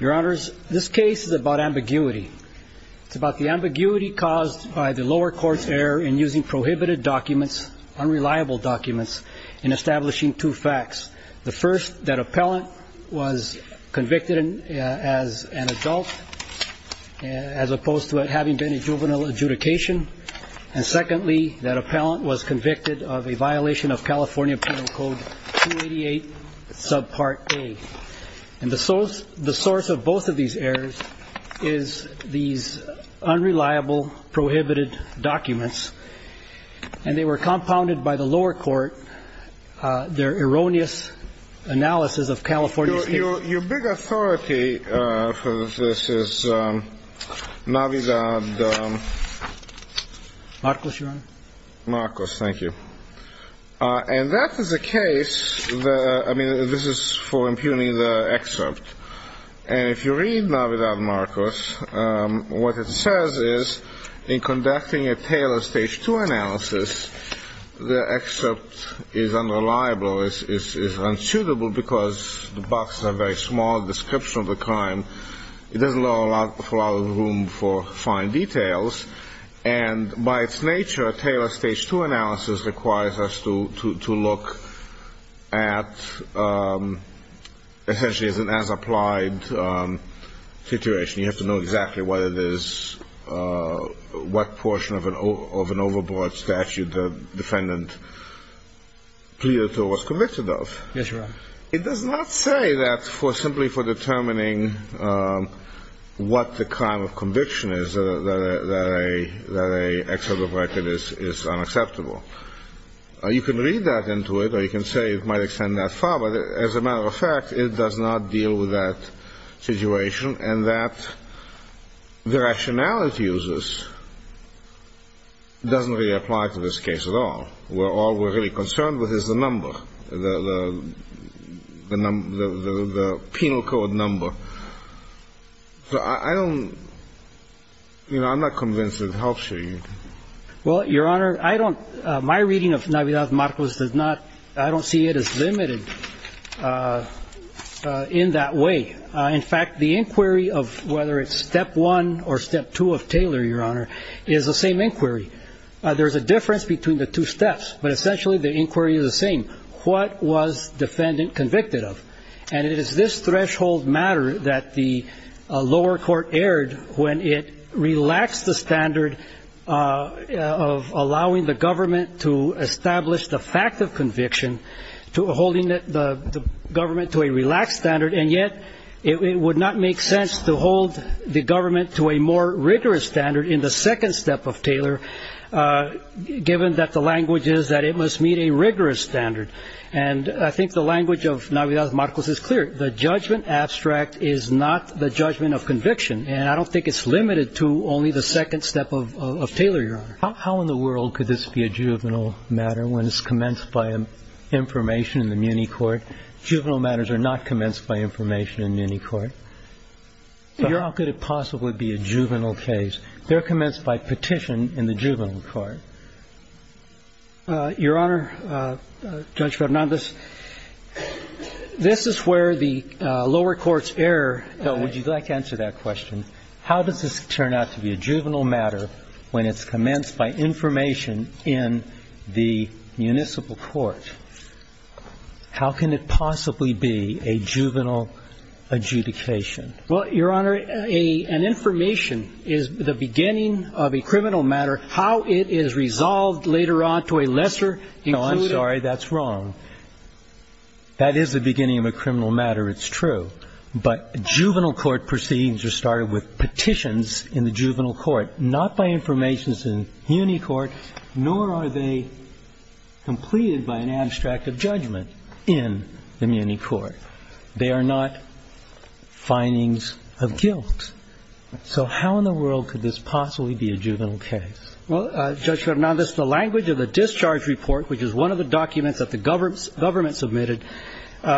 Your honors, this case is about ambiguity. It's about the ambiguity caused by the lower court's error in using prohibited documents, unreliable documents, in establishing two facts. The first, that appellant was convicted as an adult, as opposed to it having been a juvenile adjudication. And secondly, that appellant was convicted of a violation of California Penal Code 288, Subpart A. And the source of both of these errors is these unreliable, prohibited documents. And they were compounded by the lower court, their erroneous analysis of California State. Your big authority for this is Navidad. Marcos, Your Honor. Marcos, thank you. And that is the case, I mean, this is for impugning the excerpt. And if you read Navidad, Marcos, what it says is, in conducting a Taylor Stage 2 analysis, the excerpt is unreliable, is unsuitable because the boxes are very small, description of the crime. It doesn't allow a lot of room for fine details. And by its nature, a Taylor Stage 2 analysis requires us to look at, essentially, as an as-applied situation. You have to know exactly what it is, what portion of an overboard statute the defendant pleaded to or was convicted of. Yes, Your Honor. It does not say that simply for determining what the crime of conviction is, that an excerpt of record is unacceptable. You can read that into it, or you can say it might extend that far. But as a matter of fact, it does not deal with that situation, and that the rationality of this doesn't really apply to this case at all. All we're really concerned with is the number, the penal code number. So I don't, you know, I'm not convinced it helps you. Well, Your Honor, my reading of Navidad, Marcos, I don't see it as limited in that way. In fact, the inquiry of whether it's Step 1 or Step 2 of Taylor, Your Honor, is the same inquiry. There's a difference between the two steps, but essentially the inquiry is the same. What was defendant convicted of? And it is this threshold matter that the lower court erred when it relaxed the standard of allowing the government to establish the fact of conviction, to holding the government to a relaxed standard, and yet it would not make sense to hold the government to a more rigorous standard in the second step of Taylor, given that the language is that it must meet a rigorous standard. And I think the language of Navidad, Marcos, is clear. The judgment abstract is not the judgment of conviction, and I don't think it's limited to only the second step of Taylor, Your Honor. How in the world could this be a juvenile matter when it's commenced by information in the Muny court? Juvenile matters are not commenced by information in Muny court. How could it possibly be a juvenile case? They're commenced by petition in the juvenile court. Your Honor, Judge Fernandez, this is where the lower court's error fell. Would you like to answer that question? How does this turn out to be a juvenile matter when it's commenced by information in the municipal court? How can it possibly be a juvenile adjudication? Well, Your Honor, an information is the beginning of a criminal matter. How it is resolved later on to a lesser included... No, I'm sorry. That's wrong. That is the beginning of a criminal matter. It's true. But juvenile court proceedings are started with petitions in the juvenile court, not by information in Muny court, nor are they completed by an abstract of judgment in the Muny court. They are not findings of guilt. So how in the world could this possibly be a juvenile case? Well, Judge Fernandez, the language of the discharge report, which is one of the documents that the government submitted,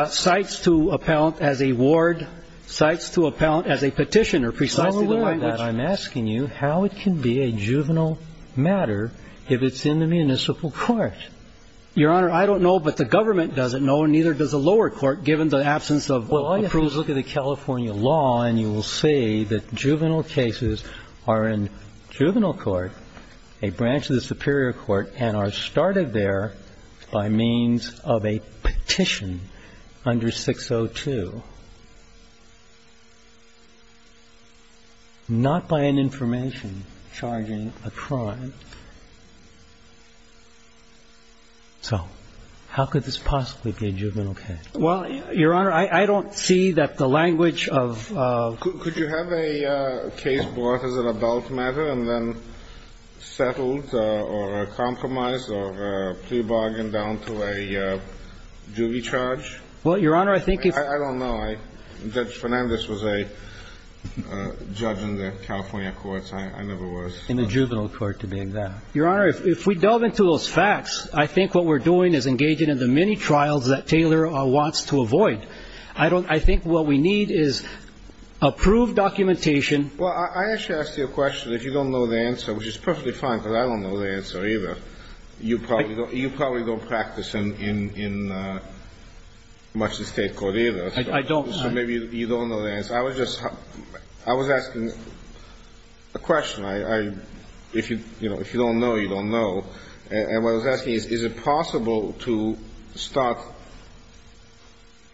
cites to appellant as a ward, cites to appellant as a petitioner. Precisely the language... I'm asking you how it can be a juvenile matter if it's in the municipal court. Your Honor, I don't know, but the government doesn't know, and neither does the lower court given the absence of... Well, all you have to do is look at the California law, and you will see that juvenile cases are in juvenile court, a branch of the superior court, and are started there by means of a petition under 602, not by an information charging a crime. So how could this possibly be a juvenile case? Well, Your Honor, I don't see that the language of... Could you have a case brought as an adult matter and then settled or compromised or pre-bargained down to a juvie charge? Well, Your Honor, I think if... I don't know. Judge Fernandez was a judge in the California courts. I never was. In the juvenile court, to be exact. Your Honor, if we delve into those facts, I think what we're doing is engaging in the many trials that Taylor wants to avoid. I think what we need is approved documentation. Well, I actually asked you a question. If you don't know the answer, which is perfectly fine because I don't know the answer either, you probably don't practice in much of the state court either. I don't. So maybe you don't know the answer. I was just asking a question. If you don't know, you don't know. And what I was asking is, is it possible to start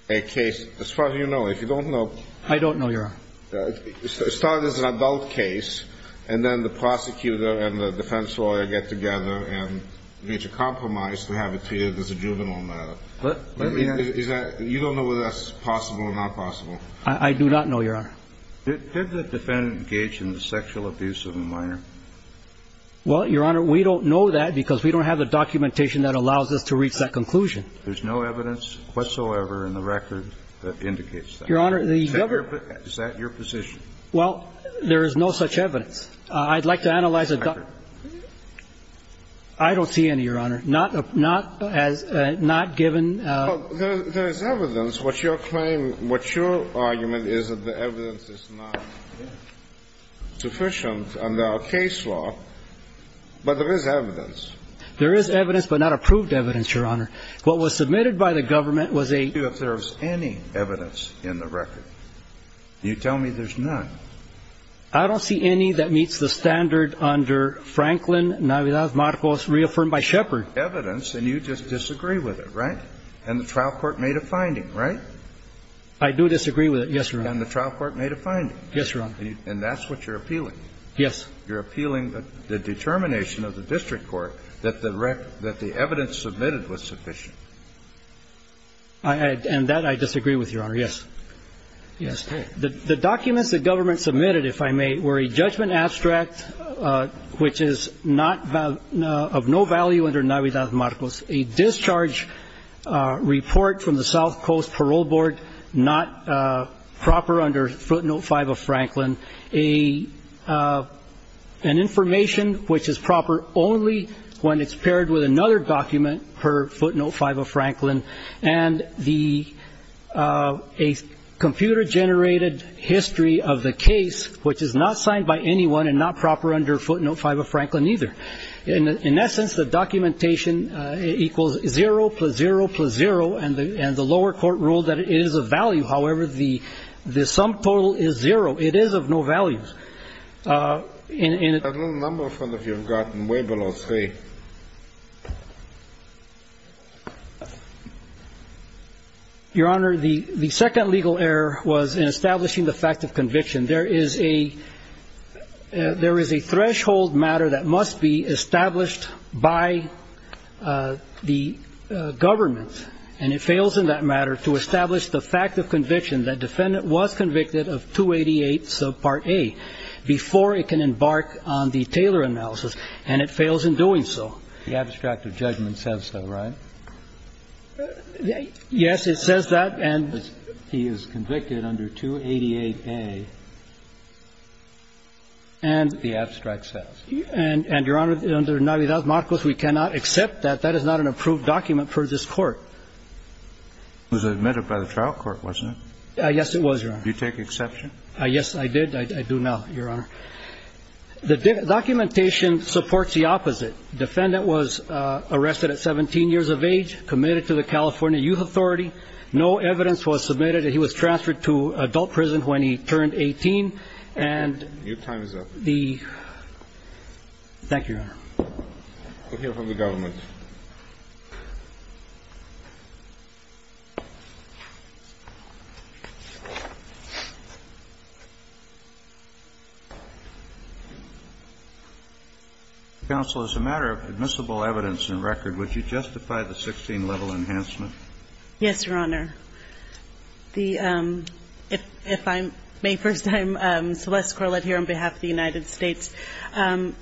a case, as far as you know, if you don't know. I don't know, Your Honor. Start as an adult case and then the prosecutor and the defense lawyer get together and reach a compromise to have it treated as a juvenile matter. You don't know whether that's possible or not possible. I do not know, Your Honor. Did the defendant engage in the sexual abuse of a minor? Well, Your Honor, we don't know that because we don't have the documentation that allows us to reach that conclusion. There's no evidence whatsoever in the record that indicates that. Is that your position? Well, there is no such evidence. I'd like to analyze it. I don't see any, Your Honor. Not given. There is evidence. What your claim, what your argument is that the evidence is not sufficient under our case law, but there is evidence. There is evidence, but not approved evidence, Your Honor. What was submitted by the government was a If there's any evidence in the record. You tell me there's none. I don't see any that meets the standard under Franklin Navidad Marcos, reaffirmed by Shepard. Evidence, and you just disagree with it, right? And the trial court made a finding, right? I do disagree with it, yes, Your Honor. And the trial court made a finding. Yes, Your Honor. And that's what you're appealing. Yes. You're appealing the determination of the district court that the evidence submitted was sufficient. And that I disagree with, Your Honor, yes. Yes. The documents the government submitted, if I may, were a judgment abstract, which is of no value under Navidad Marcos, a discharge report from the South Coast Parole Board not proper under footnote 5 of Franklin, an information which is proper only when it's paired with another document per footnote 5 of Franklin, and a computer-generated history of the case, which is not signed by anyone and not proper under footnote 5 of Franklin either. In essence, the documentation equals zero plus zero plus zero, and the lower court ruled that it is of value. However, the sum total is zero. It is of no value. I don't remember if one of you have gotten way below three. Your Honor, the second legal error was in establishing the fact of conviction. There is a threshold matter that must be established by the government, and it fails in that matter to establish the fact of conviction that defendant was convicted of 288 subpart A before it can embark on the Taylor analysis, and it fails in doing so. The abstract of judgment says so, right? Yes, it says that. And he is convicted under 288A, and the abstract says. And, Your Honor, under Navidad-Marcos, we cannot accept that. That is not an approved document for this Court. It was admitted by the trial court, wasn't it? Yes, it was, Your Honor. Did you take exception? Yes, I did. I do now, Your Honor. The documentation supports the opposite. Defendant was arrested at 17 years of age, committed to the California Youth Authority, no evidence was submitted that he was transferred to adult prison when he turned 18, and the. Your time is up. Thank you, Your Honor. We'll hear from the government. Counsel, as a matter of admissible evidence and record, would you justify the 16-level enhancement? Yes, Your Honor. If I may, first, I'm Celeste Corlett here on behalf of the United States.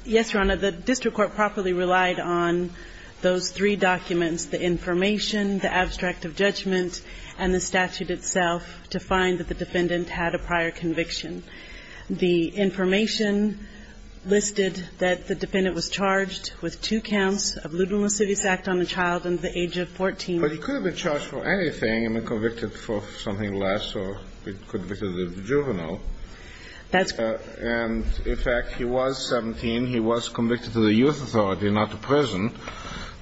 Yes, Your Honor, the district court properly relied on those three documents, the information, the abstract of judgment, and the statute itself, to find that the defendant had a prior conviction. The information listed that the defendant was charged with two counts of ludicrous act on a child under the age of 14. But he could have been charged for anything and been convicted for something less, or he could have been convicted of juvenile. That's correct. And, in fact, he was 17. He was convicted to the youth authority, not to prison.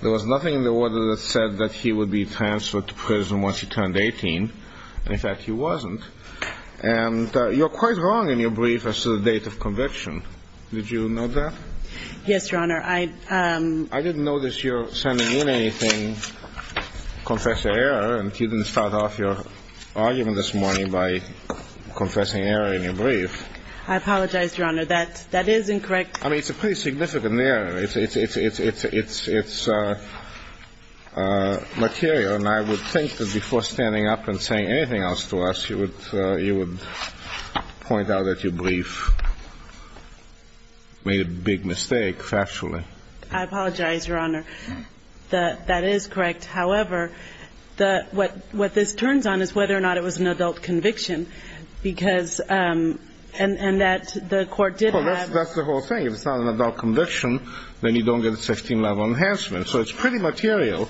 There was nothing in the order that said that he would be transferred to prison once he turned 18. In fact, he wasn't. And you're quite wrong in your brief as to the date of conviction. Did you note that? Yes, Your Honor. I didn't notice you sending in anything, confessed to error, and you didn't start off your argument this morning by confessing error in your brief. I apologize, Your Honor. That is incorrect. I mean, it's a pretty significant error. It's material, and I would think that before standing up and saying anything else to us, you would point out that your brief made a big mistake factually. I apologize, Your Honor. That is correct. However, what this turns on is whether or not it was an adult conviction, and that the court did have an adult conviction. Well, that's the whole thing. If it's not an adult conviction, then you don't get a 16-level enhancement. So it's pretty material.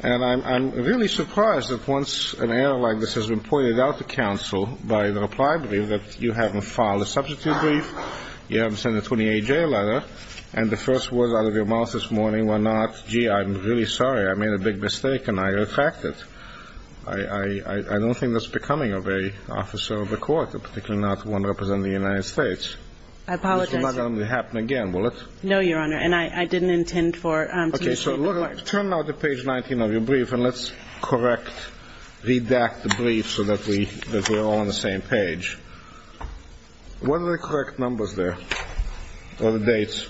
And I'm really surprised that once an error like this has been pointed out to counsel by the reply brief that you haven't filed a substitute brief, you haven't sent a 28-J letter, and the first words out of your mouth this morning were not, gee, I'm really sorry, I made a big mistake, and I retract it. I don't think that's becoming of a officer of the court, particularly not one representing the United States. I apologize, Your Honor. This will not happen again, will it? No, Your Honor. And I didn't intend to mislead the court. Okay, so turn now to page 19 of your brief, and let's correct, redact the brief so that we're all on the same page. What are the correct numbers there, or the dates?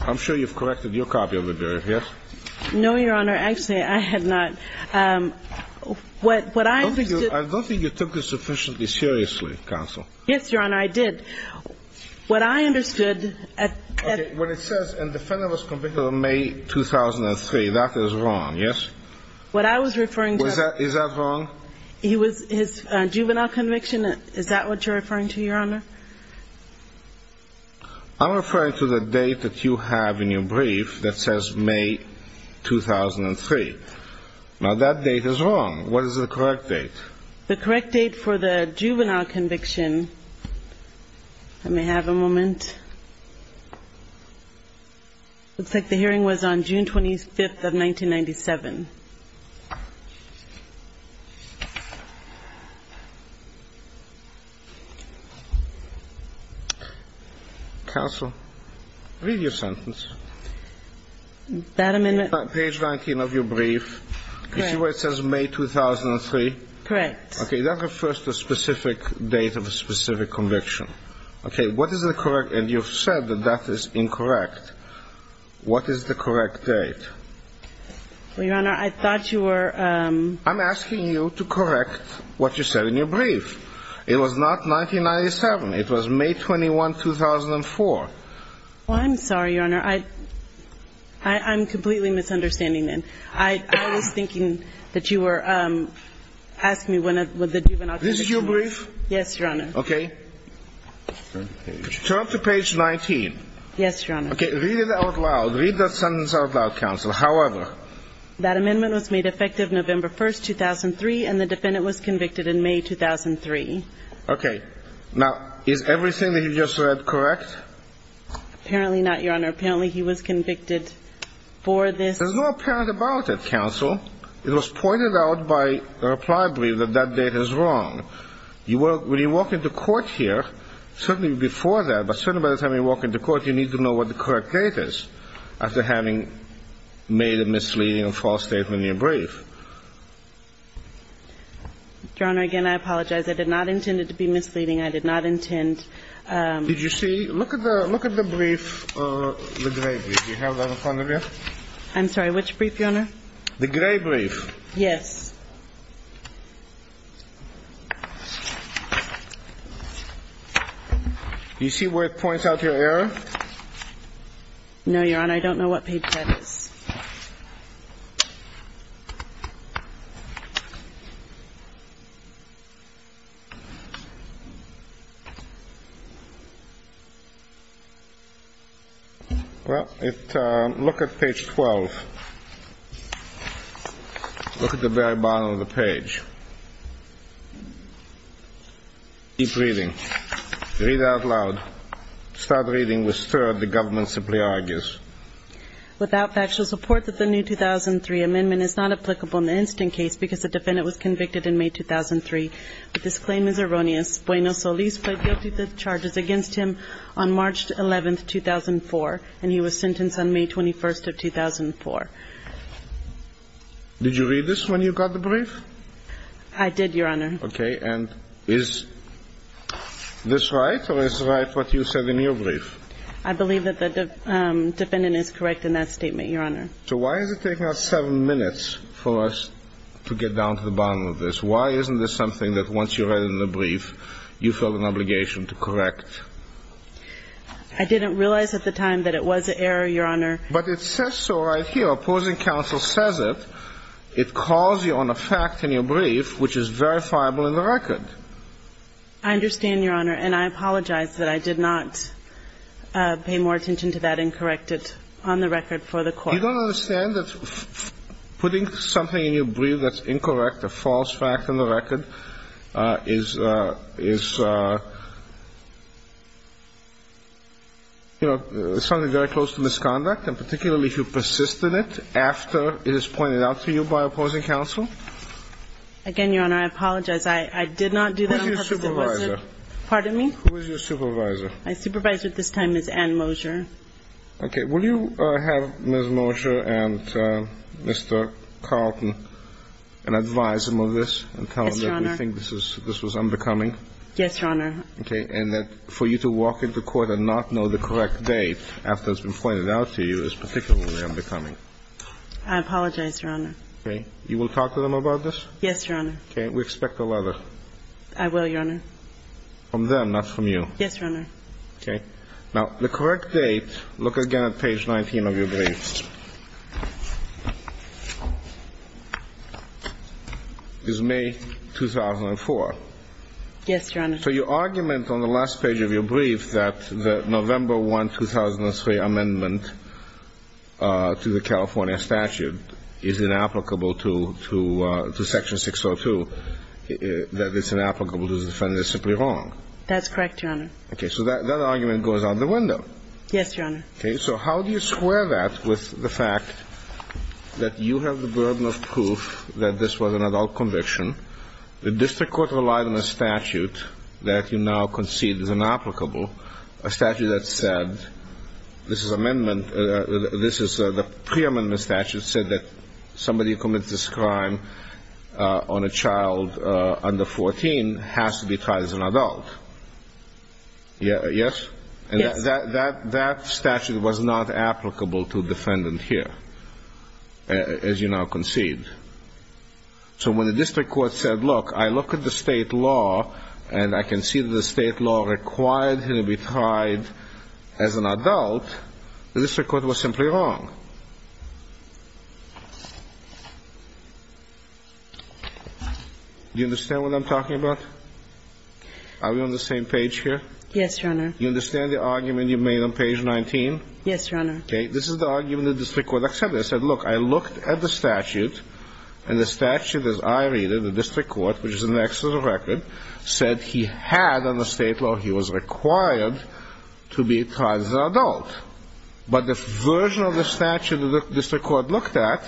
I'm sure you've corrected your copy of the brief, yes? No, Your Honor. Actually, I have not. I don't think you took this sufficiently seriously, counsel. Yes, Your Honor, I did. What I understood at the time of the conviction was May 2003. That is wrong, yes? What I was referring to was his juvenile conviction. Is that what you're referring to, Your Honor? I'm referring to the date that you have in your brief that says May 2003. Now, that date is wrong. What is the correct date? The correct date for the juvenile conviction. Let me have a moment. Looks like the hearing was on June 25th of 1997. Counsel, read your sentence. Page 19 of your brief. Correct. The date that says May 2003? Correct. Okay, that refers to a specific date of a specific conviction. Okay, what is the correct? And you've said that that is incorrect. What is the correct date? Well, Your Honor, I thought you were ---- I'm asking you to correct what you said in your brief. It was not 1997. It was May 21, 2004. Well, I'm sorry, Your Honor. I'm completely misunderstanding then. I was thinking that you were asking me when the juvenile conviction. This is your brief? Yes, Your Honor. Okay. Turn to page 19. Yes, Your Honor. Okay, read it out loud. Read that sentence out loud, Counsel. However. That amendment was made effective November 1, 2003, and the defendant was convicted in May 2003. Okay. Now, is everything that you just read correct? Apparently not, Your Honor. Apparently he was convicted for this. There's no apparent about it, Counsel. It was pointed out by the reply brief that that date is wrong. When you walk into court here, certainly before that, but certainly by the time you walk into court, you need to know what the correct date is after having made a misleading and false statement in your brief. Your Honor, again, I apologize. I did not intend it to be misleading. I did not intend ---- Did you see? Look at the brief, the gray brief. Do you have that in front of you? I'm sorry, which brief, Your Honor? The gray brief. Yes. Do you see where it points out your error? No, Your Honor. I don't know what page that is. Well, it ---- look at page 12. Look at the very bottom of the page. Keep reading. Read out loud. Start reading with third. The government simply argues. Did you read this when you got the brief? I did, Your Honor. Okay. And is this right or is it right what you said in your brief? I believe that the defendant is correct in that statement, Your Honor. So why is it taking up so much time? It took seven minutes for us to get down to the bottom of this. Why isn't this something that once you read it in the brief you felt an obligation to correct? I didn't realize at the time that it was an error, Your Honor. But it says so right here. Opposing counsel says it. It calls you on a fact in your brief which is verifiable in the record. I understand, Your Honor, and I apologize that I did not pay more attention to that and correct it on the record for the court. You don't understand that putting something in your brief that's incorrect, a false fact on the record, is something very close to misconduct, and particularly if you persist in it after it is pointed out to you by opposing counsel? Again, Your Honor, I apologize. I did not do that. Who is your supervisor? Pardon me? Who is your supervisor? My supervisor at this time is Ann Mosier. Okay. Will you have Ms. Mosier and Mr. Carlton advise him of this and tell him that we think this was undercoming? Yes, Your Honor. Okay. And that for you to walk into court and not know the correct date after it's been pointed out to you is particularly undercoming? I apologize, Your Honor. Okay. You will talk to them about this? Yes, Your Honor. Okay. We expect a letter. I will, Your Honor. From them, not from you. Yes, Your Honor. Okay. Now, the correct date, look again at page 19 of your brief, is May 2004. Yes, Your Honor. So your argument on the last page of your brief that the November 1, 2003 amendment to the California statute is inapplicable to section 602, that it's inapplicable to the defendant is simply wrong. That's correct, Your Honor. Okay. So that argument goes out the window. Yes, Your Honor. Okay. So how do you square that with the fact that you have the burden of proof that this was an adult conviction, the district court relied on a statute that you now concede is inapplicable, a statute that said, this is amendment, this is the pre-amendment statute said that somebody who commits this crime on a child under 14 has to be tried as an adult. Yes? Yes. And that statute was not applicable to defendant here, as you now concede. So when the district court said, look, I look at the state law and I can see that the state law required him to be tried as an adult, the district court was simply wrong. Do you understand what I'm talking about? Are we on the same page here? Yes, Your Honor. Do you understand the argument you made on page 19? Yes, Your Honor. Okay. This is the argument the district court accepted. It said, look, I looked at the statute, and the statute, as I read it, the district court, which is in excess of the record, said he had on the state law he was required to be tried as an adult. But the version of the statute that the district court looked at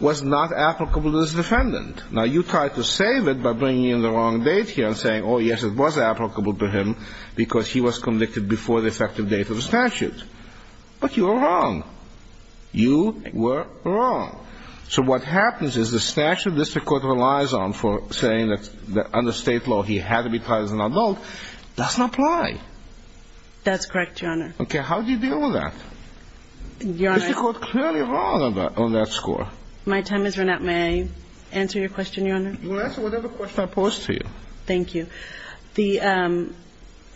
was not applicable to this defendant. Now, you tried to save it by bringing in the wrong date here and saying, oh, yes, it was applicable to him because he was convicted before the effective date of the statute. But you were wrong. You were wrong. So what happens is the statute the district court relies on for saying that under state law he had to be tried as an adult doesn't apply. That's correct, Your Honor. Okay. How do you deal with that? Your Honor. Is the court clearly wrong on that score? My time has run out. May I answer your question, Your Honor? You can answer whatever question I pose to you. Thank you. The ‑‑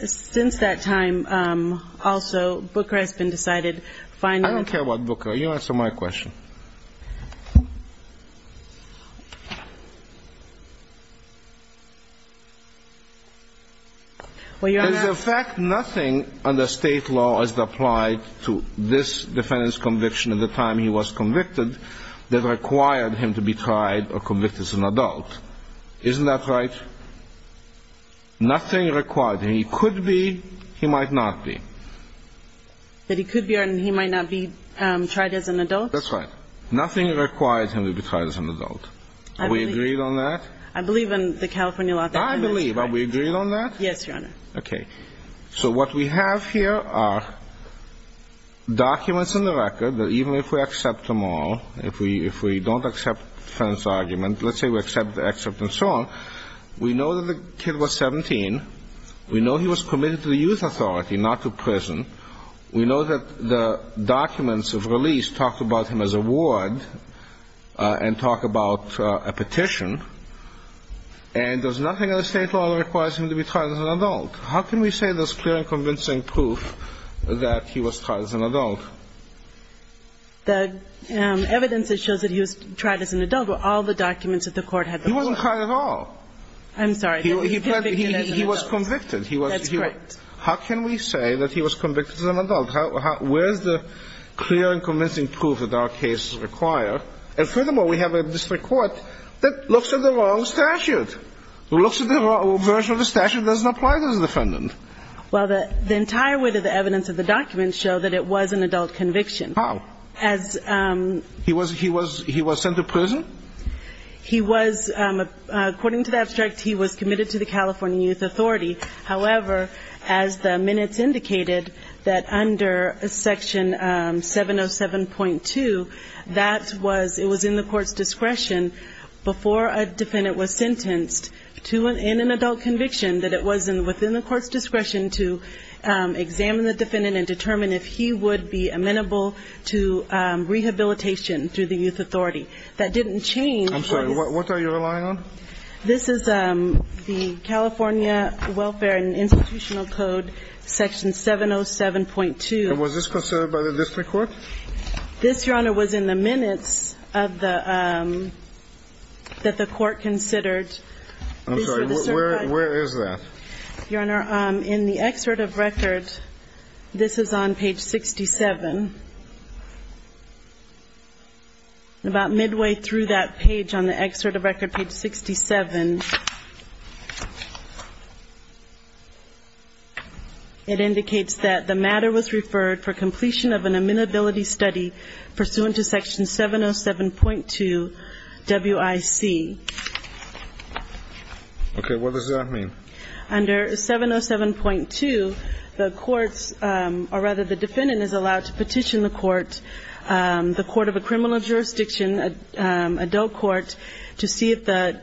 since that time, also, Booker has been decided finally ‑‑ I don't care about Booker. You answer my question. Well, Your Honor ‑‑ Nothing under state law has applied to this defendant's conviction at the time he was convicted that required him to be tried or convicted as an adult. Isn't that right? Nothing required. He could be, he might not be. That he could be or he might not be tried as an adult? That's right. Nothing requires him to be tried as an adult. Are we agreed on that? I believe in the California law. I believe. Are we agreed on that? Yes, Your Honor. Okay. So what we have here are documents in the record that even if we accept them all, if we don't accept Fenn's argument, let's say we accept the excerpt and so on, we know that the kid was 17. We know he was committed to the youth authority, not to prison. We know that the documents of release talk about him as a ward and talk about a petition. And there's nothing under state law that requires him to be tried as an adult. How can we say there's clear and convincing proof that he was tried as an adult? The evidence that shows that he was tried as an adult were all the documents that the Court had before him. He wasn't tried at all. I'm sorry. He was convicted. He was convicted. That's correct. How can we say that he was convicted as an adult? Where's the clear and convincing proof that our cases require? And furthermore, we have a district court that looks at the wrong statute, who looks at the version of the statute that doesn't apply to the defendant. Well, the entire width of the evidence of the documents show that it was an adult conviction. How? He was sent to prison? He was, according to the abstract, he was committed to the California Youth Authority. However, as the minutes indicated, that under Section 707.2, that was, it was in the Court's discretion before a defendant was sentenced in an adult conviction that it was within the Court's discretion to examine the defendant and determine if he would be amenable to rehabilitation through the Youth Authority. That didn't change. I'm sorry. What are you relying on? This is the California Welfare and Institutional Code, Section 707.2. And was this considered by the district court? This, Your Honor, was in the minutes of the, that the court considered. I'm sorry. Where is that? Your Honor, in the excerpt of record, this is on page 67. About midway through that page on the excerpt of record, page 67, it indicates that the matter was referred for completion of an amenability study pursuant to Section 707.2 WIC. Okay. What does that mean? Under 707.2, the courts, or rather the defendant is allowed to petition the court, the court of a criminal jurisdiction, adult court, to see if the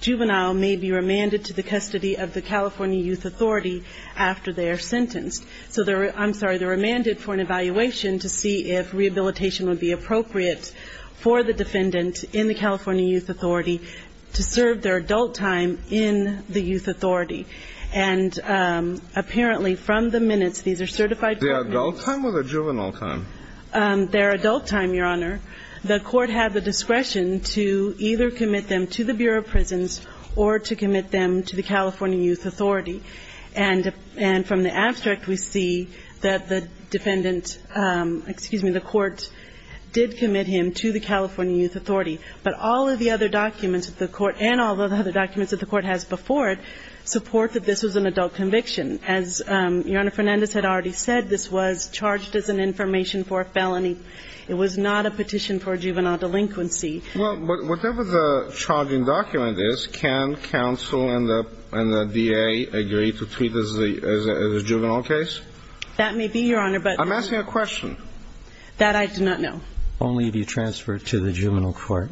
juvenile may be remanded to the custody of the California Youth Authority after they are sentenced. So they're, I'm sorry, they're remanded for an evaluation to see if rehabilitation would be appropriate for the defendant in the California Youth Authority to serve their adult time in the Youth Authority. And apparently from the minutes, these are certified. The adult time or the juvenile time? Their adult time, Your Honor. The court had the discretion to either commit them to the Bureau of Prisons or to commit them to the California Youth Authority. And from the abstract, we see that the defendant, excuse me, did commit him to the California Youth Authority. But all of the other documents that the court, and all of the other documents that the court has before it, support that this was an adult conviction. As Your Honor, Fernandez had already said, this was charged as an information for a felony. It was not a petition for a juvenile delinquency. Well, whatever the charging document is, can counsel and the D.A. agree to treat this as a juvenile case? That may be, Your Honor, but the... I'm asking a question. That I do not know. Only if you transfer it to the juvenile court.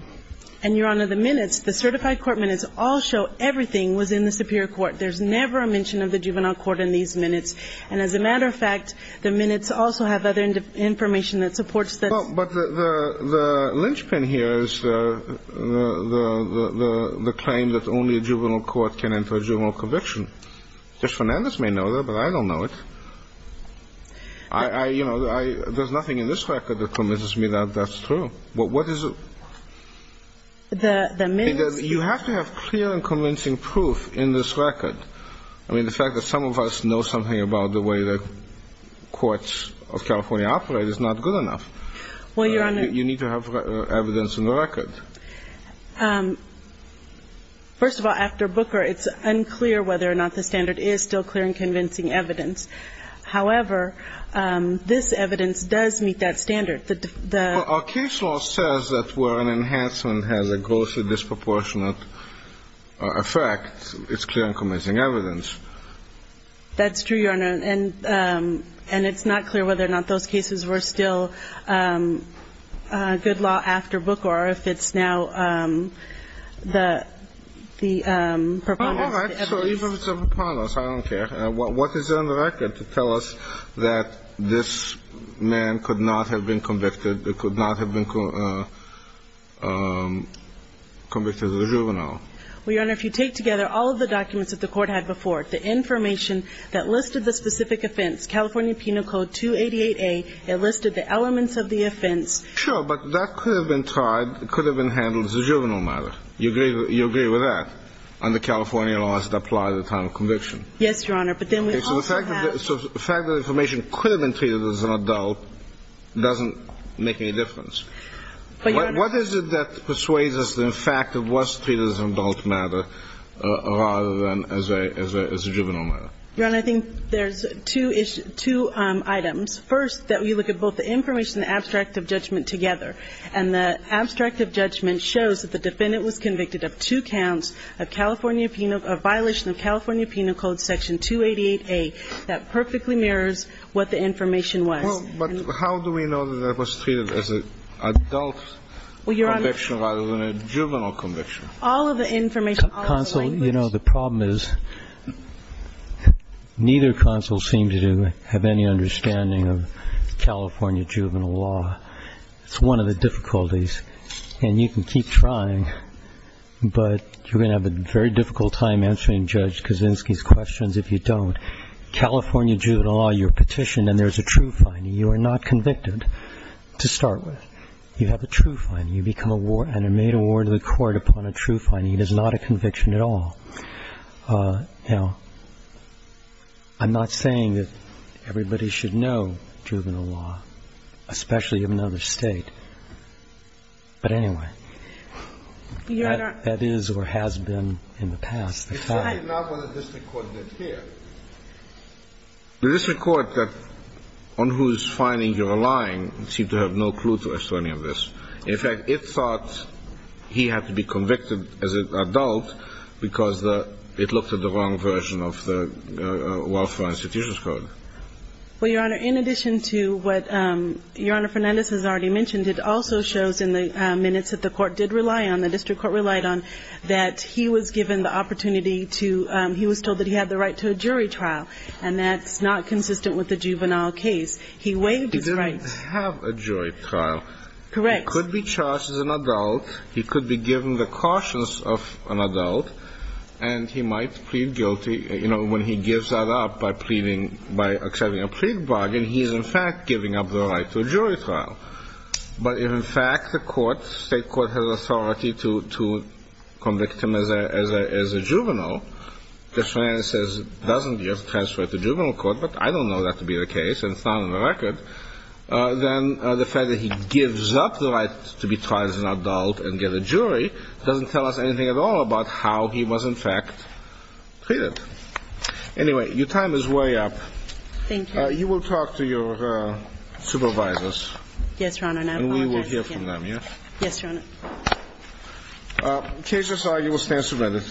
And, Your Honor, the minutes, the certified court minutes, all show everything was in the superior court. There's never a mention of the juvenile court in these minutes. And as a matter of fact, the minutes also have other information that supports that. But the linchpin here is the claim that only a juvenile court can enter a juvenile conviction. Judge Fernandez may know that, but I don't know it. I, you know, there's nothing in this record that convinces me that that's true. But what is it? The minutes... You have to have clear and convincing proof in this record. I mean, the fact that some of us know something about the way that courts of California operate is not good enough. Well, Your Honor... You need to have evidence in the record. First of all, after Booker, it's unclear whether or not the standard is still clear and convincing evidence. However, this evidence does meet that standard. Well, our case law says that where an enhancement has a grossly disproportionate effect, it's clear and convincing evidence. That's true, Your Honor. And it's not clear whether or not those cases were still good law after Booker, or if it's now the preponderance of the evidence. All right. So even if it's a preponderance, I don't care. What is there in the record to tell us that this man could not have been convicted, could not have been convicted as a juvenile? Well, Your Honor, if you take together all of the documents that the court had before, the information that listed the specific offense, California Penal Code 288A, it listed the elements of the offense... Sure, but that could have been tried, it could have been handled as a juvenile matter. You agree with that? Under California laws that apply at the time of conviction? Yes, Your Honor. But then we also have... Okay. So the fact that information could have been treated as an adult doesn't make any difference. But, Your Honor... What is it that persuades us that, in fact, it was treated as an adult matter rather than as a juvenile matter? Your Honor, I think there's two items. First, that we look at both the information and the abstract of judgment together. And the abstract of judgment shows that the defendant was convicted of two counts of violation of California Penal Code Section 288A. That perfectly mirrors what the information was. Well, but how do we know that that was treated as an adult conviction rather than a juvenile conviction? All of the information, all of the language... Counsel, you know, the problem is neither counsel seems to have any understanding of California juvenile law. It's one of the difficulties. And you can keep trying, but you're going to have a very difficult time answering Judge Kaczynski's questions if you don't. California juvenile law, you're petitioned and there's a true finding. You are not convicted to start with. You have a true finding. You become and are made award to the court upon a true finding. It is not a conviction at all. You know, I'm not saying that everybody should know juvenile law, especially in another state. But anyway, that is or has been in the past. It's not what the district court did here. The district court that on whose finding you're lying seemed to have no clue to us to any of this. In fact, it thought he had to be convicted as an adult because it looked at the wrong version of the Welfare Institutions Code. Well, Your Honor, in addition to what Your Honor Fernandez has already mentioned, it also shows in the minutes that the court did rely on, the district court relied on, that he was given the opportunity to, he was told that he had the right to a jury trial. And that's not consistent with the juvenile case. He waived his right. He didn't have a jury trial. Correct. He could be charged as an adult. He could be given the cautions of an adult. And he might plead guilty, you know, when he gives that up by pleading, by accepting a plea bargain, he is, in fact, giving up the right to a jury trial. But if, in fact, the court, state court, has authority to convict him as a juvenile, if Fernandez says, doesn't give, transfer it to juvenile court, but I don't know that to be the case and it's not on the record, then the fact that he gives up the right to be tried as an adult and get a jury doesn't tell us anything at all about how he was, in fact, treated. Anyway, your time is way up. Thank you. You will talk to your supervisors. Yes, Your Honor, and I apologize again. And we will hear from them, yes? Yes, Your Honor. In case you're sorry, you will stand submitted.